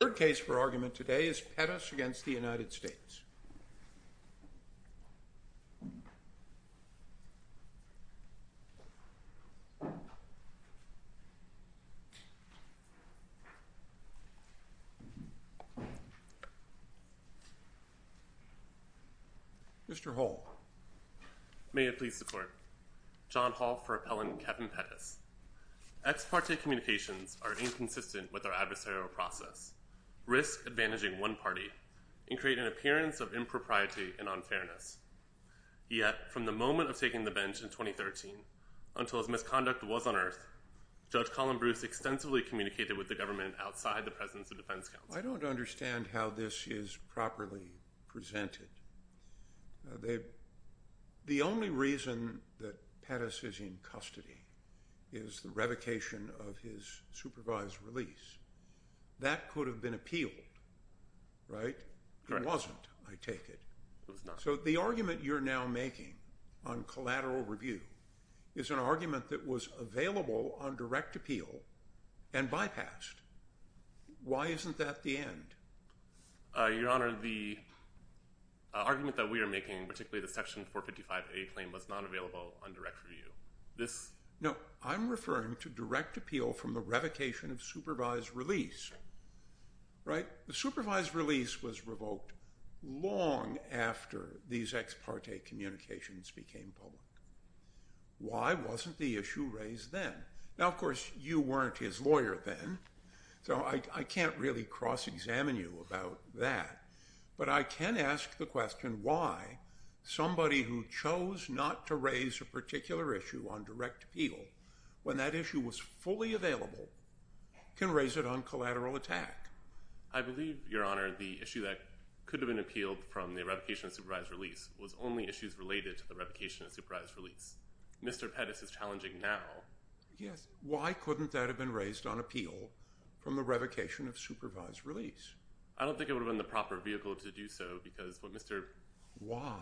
Third case for argument today is Pettis v. United States. Mr. Hall. May it please the Court. John Hall for Appellant Kevin Pettis. Ex parte communications are inconsistent with our adversarial process, risk advantaging one party, and create an appearance of impropriety and unfairness. Yet from the moment of taking the bench in 2013 until his misconduct was unearthed, Judge Colin Bruce extensively communicated with the government outside the presence of defense counsel. I don't understand how this is properly presented. The only reason that Pettis is in custody is the revocation of his supervised release. That could have been appealed, right? It wasn't, I take it. It was not. So the argument you're now making on collateral review is an argument that was available on direct appeal and bypassed. Why isn't that the end? Your Honor, the argument that we are making, particularly the section 455A claim, was not available on direct review. No, I'm referring to direct appeal from the revocation of supervised release, right? The supervised release was revoked long after these ex parte communications became public. Why wasn't the issue raised then? Now, of course, you weren't his lawyer then. So I can't really cross-examine you about that. But I can ask the question why somebody who chose not to raise a particular issue on direct appeal, when that issue was fully available, can raise it on collateral attack? I believe, Your Honor, the issue that could have been appealed from the revocation of supervised release was only issues related to the revocation of supervised release. Mr. Pettis is challenging now. Yes. Why couldn't that have been raised on appeal from the revocation of supervised release? I don't think it would have been the proper vehicle to do so because what Mr. Why?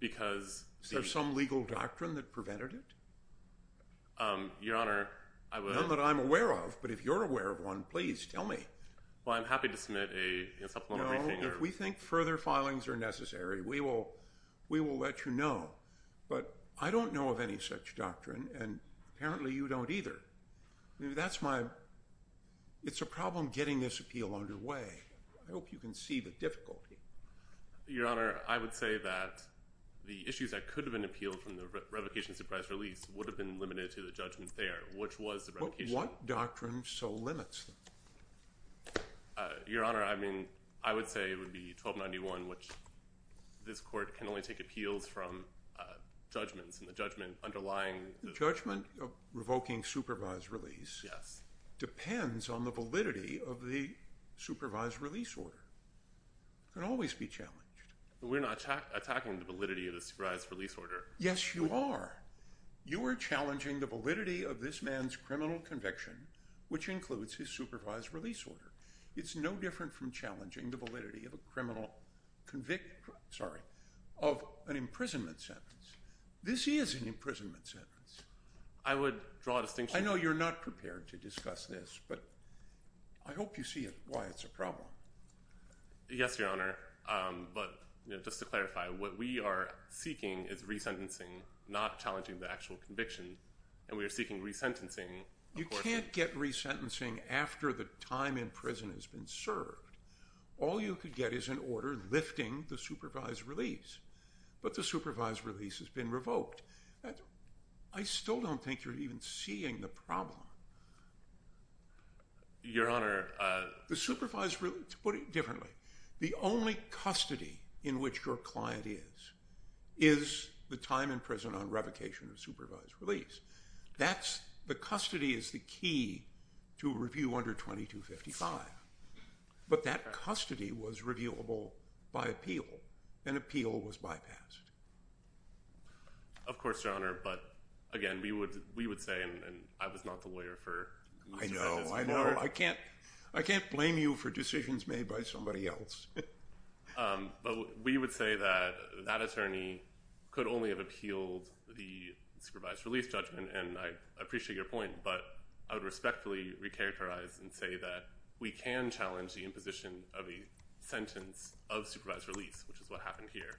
Because Is there some legal doctrine that prevented it? Your Honor, I would None that I'm aware of. But if you're aware of one, please tell me. Well, I'm happy to submit a supplemental briefing. No, if we think further filings are necessary, we will let you know. But I don't know of any such doctrine, and apparently you don't either. That's my It's a problem getting this appeal underway. I hope you can see the difficulty. Your Honor, I would say that the issues that could have been appealed from the revocation of supervised release would have been limited to the judgment there, which was the revocation What doctrine so limits them? Your Honor, I mean, I would say it would be 1291, which this court can only take appeals from judgments and the judgment underlying the judgment of revoking supervised release. Yes. Depends on the validity of the supervised release order. Can always be challenged. We're not attacking the validity of the supervised release order. Yes, you are. You are challenging the validity of this man's criminal conviction, which includes his supervised release order. It's no different from challenging the validity of a criminal convict. Sorry, of an imprisonment sentence. This is an imprisonment sentence. I would draw a distinction. I know you're not prepared to discuss this, but I hope you see why it's a problem. Yes, Your Honor. But just to clarify, what we are seeking is resentencing, not challenging the actual conviction. And we are seeking resentencing. You can't get resentencing after the time in prison has been served. All you could get is an order lifting the supervised release. But the supervised release has been revoked. I still don't think you're even seeing the problem. Your Honor. The supervised release, put it differently. The only custody in which your client is, is the time in prison on revocation of supervised release. The custody is the key to a review under 2255. But that custody was reviewable by appeal, and appeal was bypassed. Of course, Your Honor. But, again, we would say, and I was not the lawyer for Mr. Hedges. I know, I know. I can't blame you for decisions made by somebody else. But we would say that that attorney could only have appealed the supervised release judgment. And I appreciate your point. But I would respectfully recharacterize and say that we can challenge the imposition of a sentence of supervised release, which is what happened here.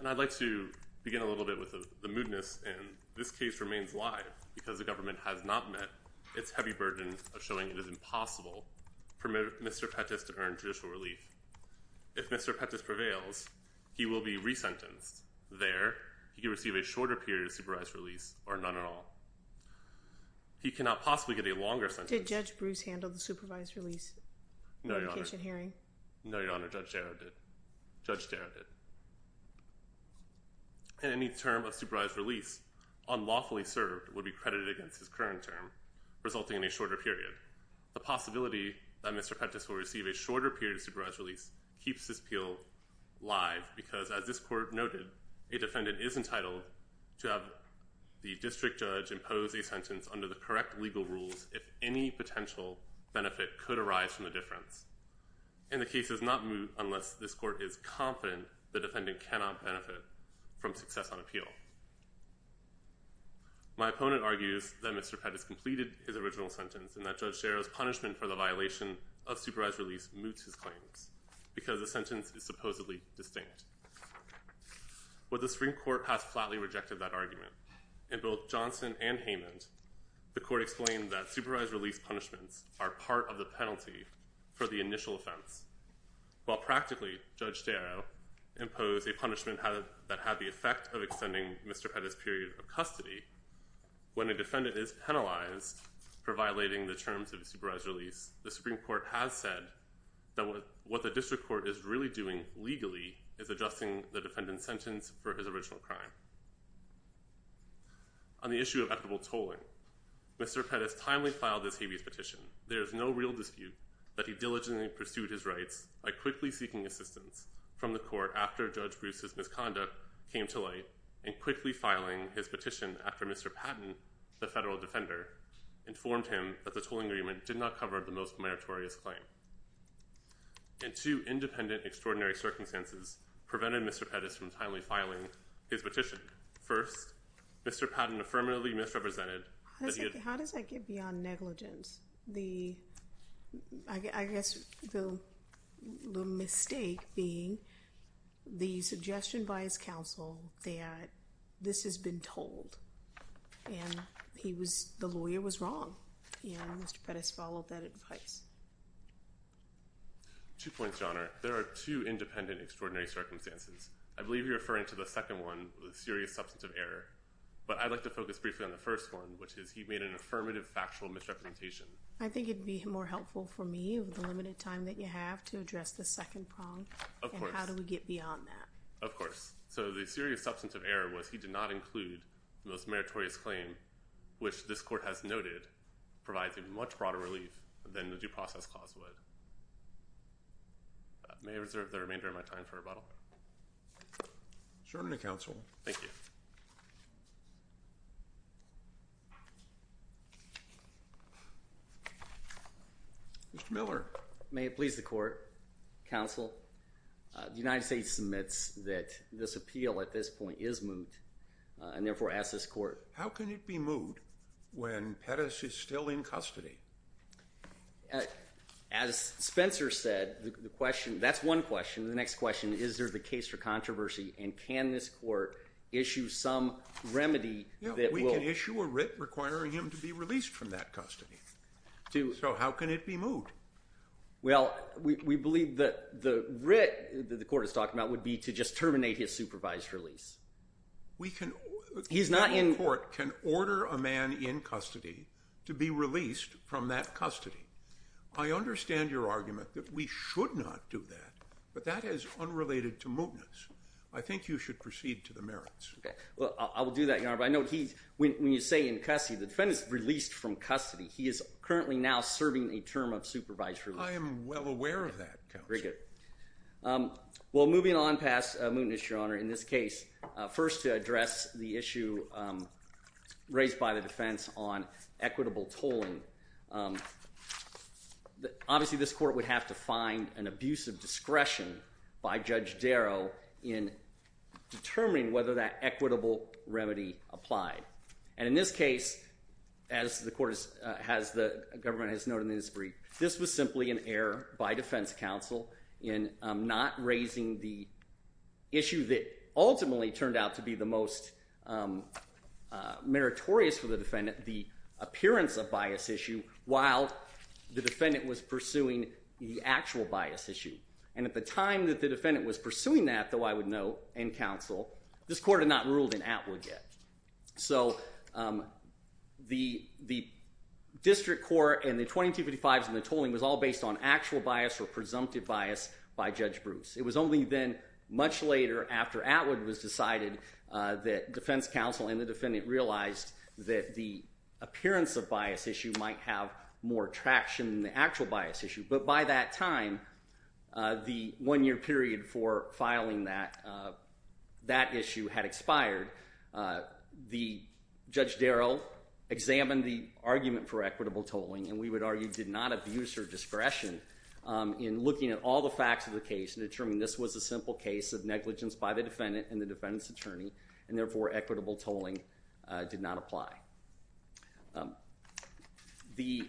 And I'd like to begin a little bit with the moodness. And this case remains alive because the government has not met its heavy burden of showing it is impossible for Mr. Pettis to earn judicial relief. If Mr. Pettis prevails, he will be resentenced. There, he will receive a shorter period of supervised release, or none at all. He cannot possibly get a longer sentence. Did Judge Bruce handle the supervised release revocation hearing? No, Your Honor. Judge Darrow did. Judge Darrow did. And any term of supervised release unlawfully served would be credited against his current term, resulting in a shorter period. The possibility that Mr. Pettis will receive a shorter period of supervised release keeps this appeal live because, as this court noted, a defendant is entitled to have the district judge impose a sentence under the correct legal rules if any potential benefit could arise from the difference. And the case does not moot unless this court is confident the defendant cannot benefit from success on appeal. My opponent argues that Mr. Pettis completed his original sentence and that Judge Darrow's punishment for the violation of supervised release moots his claims because the sentence is supposedly distinct. But the Supreme Court has flatly rejected that argument. In both Johnson and Haymond, the court explained that supervised release punishments are part of the penalty for the initial offense. While practically Judge Darrow imposed a punishment that had the effect of extending Mr. Pettis' period of custody, when a defendant is penalized for violating the terms of a supervised release, the Supreme Court has said that what the district court is really doing legally is adjusting the defendant's sentence for his original crime. On the issue of equitable tolling, Mr. Pettis timely filed this habeas petition. There is no real dispute that he diligently pursued his rights by quickly seeking assistance from the court after Judge Bruce's misconduct came to light and quickly filing his petition after Mr. Patton, the federal defender, informed him that the tolling agreement did not cover the most meritorious claim. And two independent extraordinary circumstances prevented Mr. Pettis from timely filing his petition. First, Mr. Patton affirmatively misrepresented that he had How does that get beyond negligence? I guess the mistake being the suggestion by his counsel that this has been told and the lawyer was wrong. And Mr. Pettis followed that advice. Two points, Your Honor. There are two independent extraordinary circumstances. I believe you're referring to the second one, the serious substance of error. But I'd like to focus briefly on the first one, which is he made an affirmative factual misrepresentation. I think it would be more helpful for me with the limited time that you have to address the second problem. Of course. And how do we get beyond that? Of course. So the serious substance of error was he did not include the most meritorious claim, which this court has noted provides a much broader relief than the due process clause would. May I reserve the remainder of my time for rebuttal? Certainly, counsel. Thank you. Mr. Miller. May it please the court, counsel. The United States submits that this appeal at this point is moot and therefore asks this court. How can it be moot when Pettis is still in custody? As Spencer said, the question, that's one question. The next question, is there the case for controversy and can this court issue some remedy that will. We can issue a writ requiring him to be released from that custody. So how can it be moot? Well, we believe that the writ that the court is talking about would be to just terminate his supervised release. He's not in. The federal court can order a man in custody to be released from that custody. I understand your argument that we should not do that, but that is unrelated to mootness. I think you should proceed to the merits. Well, I will do that, Your Honor, but I know when you say in custody, the defendant is released from custody. He is currently now serving a term of supervised release. I am well aware of that, counsel. Very good. Well, moving on past mootness, Your Honor, in this case, first to address the issue raised by the defense on equitable tolling. Obviously, this court would have to find an abuse of discretion by Judge Darrow in determining whether that equitable remedy applied. And in this case, as the government has noted in this brief, this was simply an error by defense counsel in not raising the issue that ultimately turned out to be the most meritorious for the defendant, the appearance of bias issue, while the defendant was pursuing the actual bias issue. And at the time that the defendant was pursuing that, though, I would note in counsel, this court had not ruled in Atwood yet. So the district court and the 2255s and the tolling was all based on actual bias or presumptive bias by Judge Bruce. It was only then, much later after Atwood was decided, that defense counsel and the defendant realized that the appearance of bias issue might have more traction than the actual bias issue. But by that time, the one-year period for filing that issue had expired. Judge Darrow examined the argument for equitable tolling, and we would argue did not abuse her discretion in looking at all the facts of the case and determining this was a simple case of negligence by the defendant and the defendant's attorney, and therefore equitable tolling did not apply. The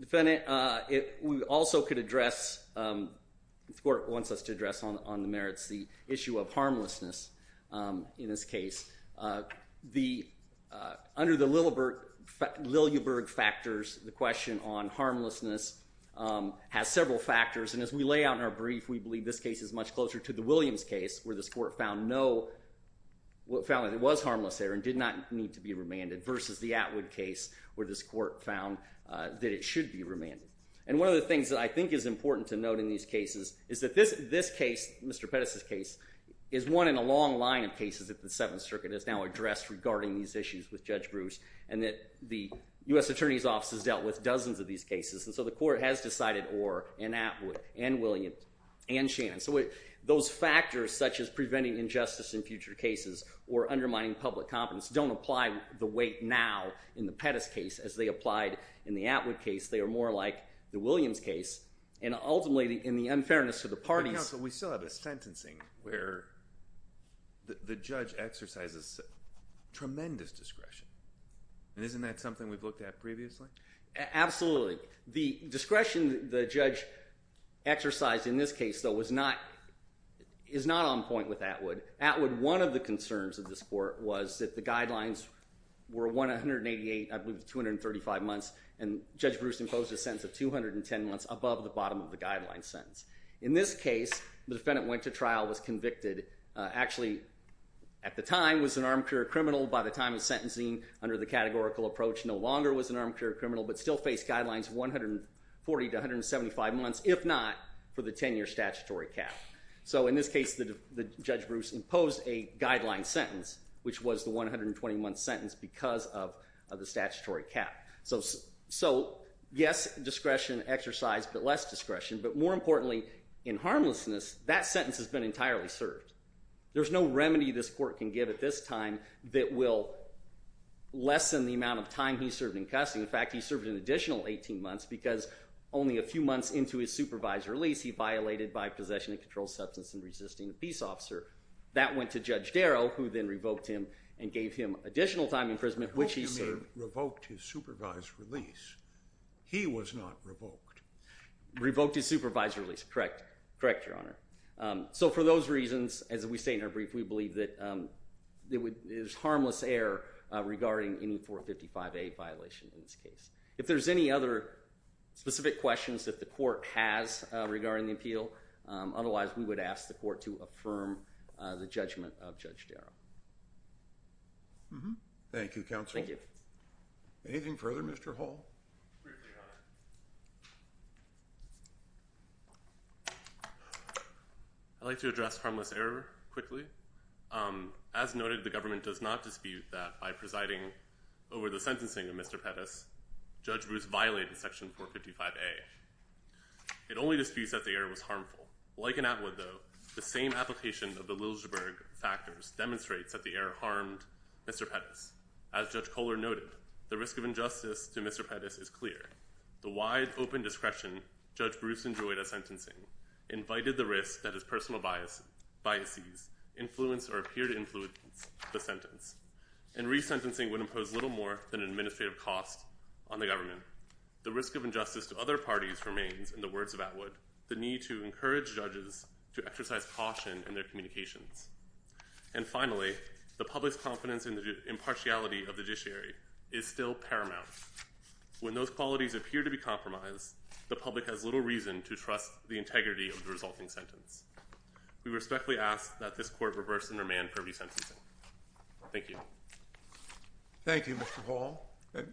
defendant also could address, the court wants us to address on the merits, the issue of harmlessness in this case. Under the Lillieberg factors, the question on harmlessness has several factors, and as we lay out in our brief, we believe this case is much closer to the Williams case where this court found no, found that it was harmless there and did not need to be remanded versus the Atwood case where this court found that it should be remanded. And one of the things that I think is important to note in these cases is that this case, Mr. Pettis' case, is one in a long line of cases that the Seventh Circuit has now addressed regarding these issues with Judge Bruce, and that the U.S. Attorney's Office has dealt with dozens of these cases. And so the court has decided Orr and Atwood and Williams and Shannon. So those factors such as preventing injustice in future cases or undermining public confidence don't apply the weight now in the Pettis case as they applied in the Atwood case. They are more like the Williams case, and ultimately in the unfairness to the parties. But counsel, we still have a sentencing where the judge exercises tremendous discretion, and isn't that something we've looked at previously? Absolutely. The discretion the judge exercised in this case, though, is not on point with Atwood. Atwood, one of the concerns of this court was that the guidelines were 188, I believe it was 235 months, and Judge Bruce imposed a sentence of 210 months above the bottom of the guideline sentence. In this case, the defendant went to trial, was convicted, actually at the time was an armchair criminal. By the time of sentencing, under the categorical approach, no longer was an armchair criminal, but still faced guidelines 140 to 175 months, if not for the 10-year statutory cap. So in this case, Judge Bruce imposed a guideline sentence, which was the 120-month sentence because of the statutory cap. So yes, discretion exercised, but less discretion. But more importantly, in harmlessness, that sentence has been entirely served. There's no remedy this court can give at this time that will lessen the amount of time he served in custody. In fact, he served an additional 18 months because only a few months into his supervised release, he violated by possession and controlled substance in resisting a peace officer. That went to Judge Darrow, who then revoked him and gave him additional time in prison, which he served. The defendant revoked his supervised release. He was not revoked. Revoked his supervised release. Correct. Correct, Your Honor. So for those reasons, as we say in our brief, we believe that there's harmless error regarding any 455A violation in this case. If there's any other specific questions that the court has regarding the appeal, otherwise we would ask the court to affirm the judgment of Judge Darrow. Mm-hmm. Thank you, Counsel. Thank you. Anything further, Mr. Hull? Briefly, Your Honor. I'd like to address harmless error quickly. As noted, the government does not dispute that by presiding over the sentencing of Mr. Pettis, Judge Booth violated section 455A. It only disputes that the error was harmful. Like in Atwood, though, the same application of the Liljesburg factors demonstrates that the error harmed Mr. Pettis. As Judge Kohler noted, the risk of injustice to Mr. Pettis is clear. The wide open discretion Judge Bruce enjoyed at sentencing invited the risk that his personal biases influenced or appeared to influence the sentence. And resentencing would impose little more than an administrative cost on the government. In addition, the risk of injustice to other parties remains, in the words of Atwood, the need to encourage judges to exercise caution in their communications. And finally, the public's confidence in the impartiality of the judiciary is still paramount. When those qualities appear to be compromised, the public has little reason to trust the integrity of the resulting sentence. We respectfully ask that this court reverse and remand for resentencing. Thank you. Thank you, Mr. Hull.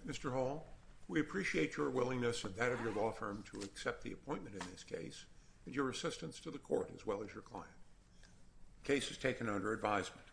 Mr. Hull, we appreciate your willingness and that of your law firm to accept the appointment in this case and your assistance to the court as well as your client. The case is taken under advisement.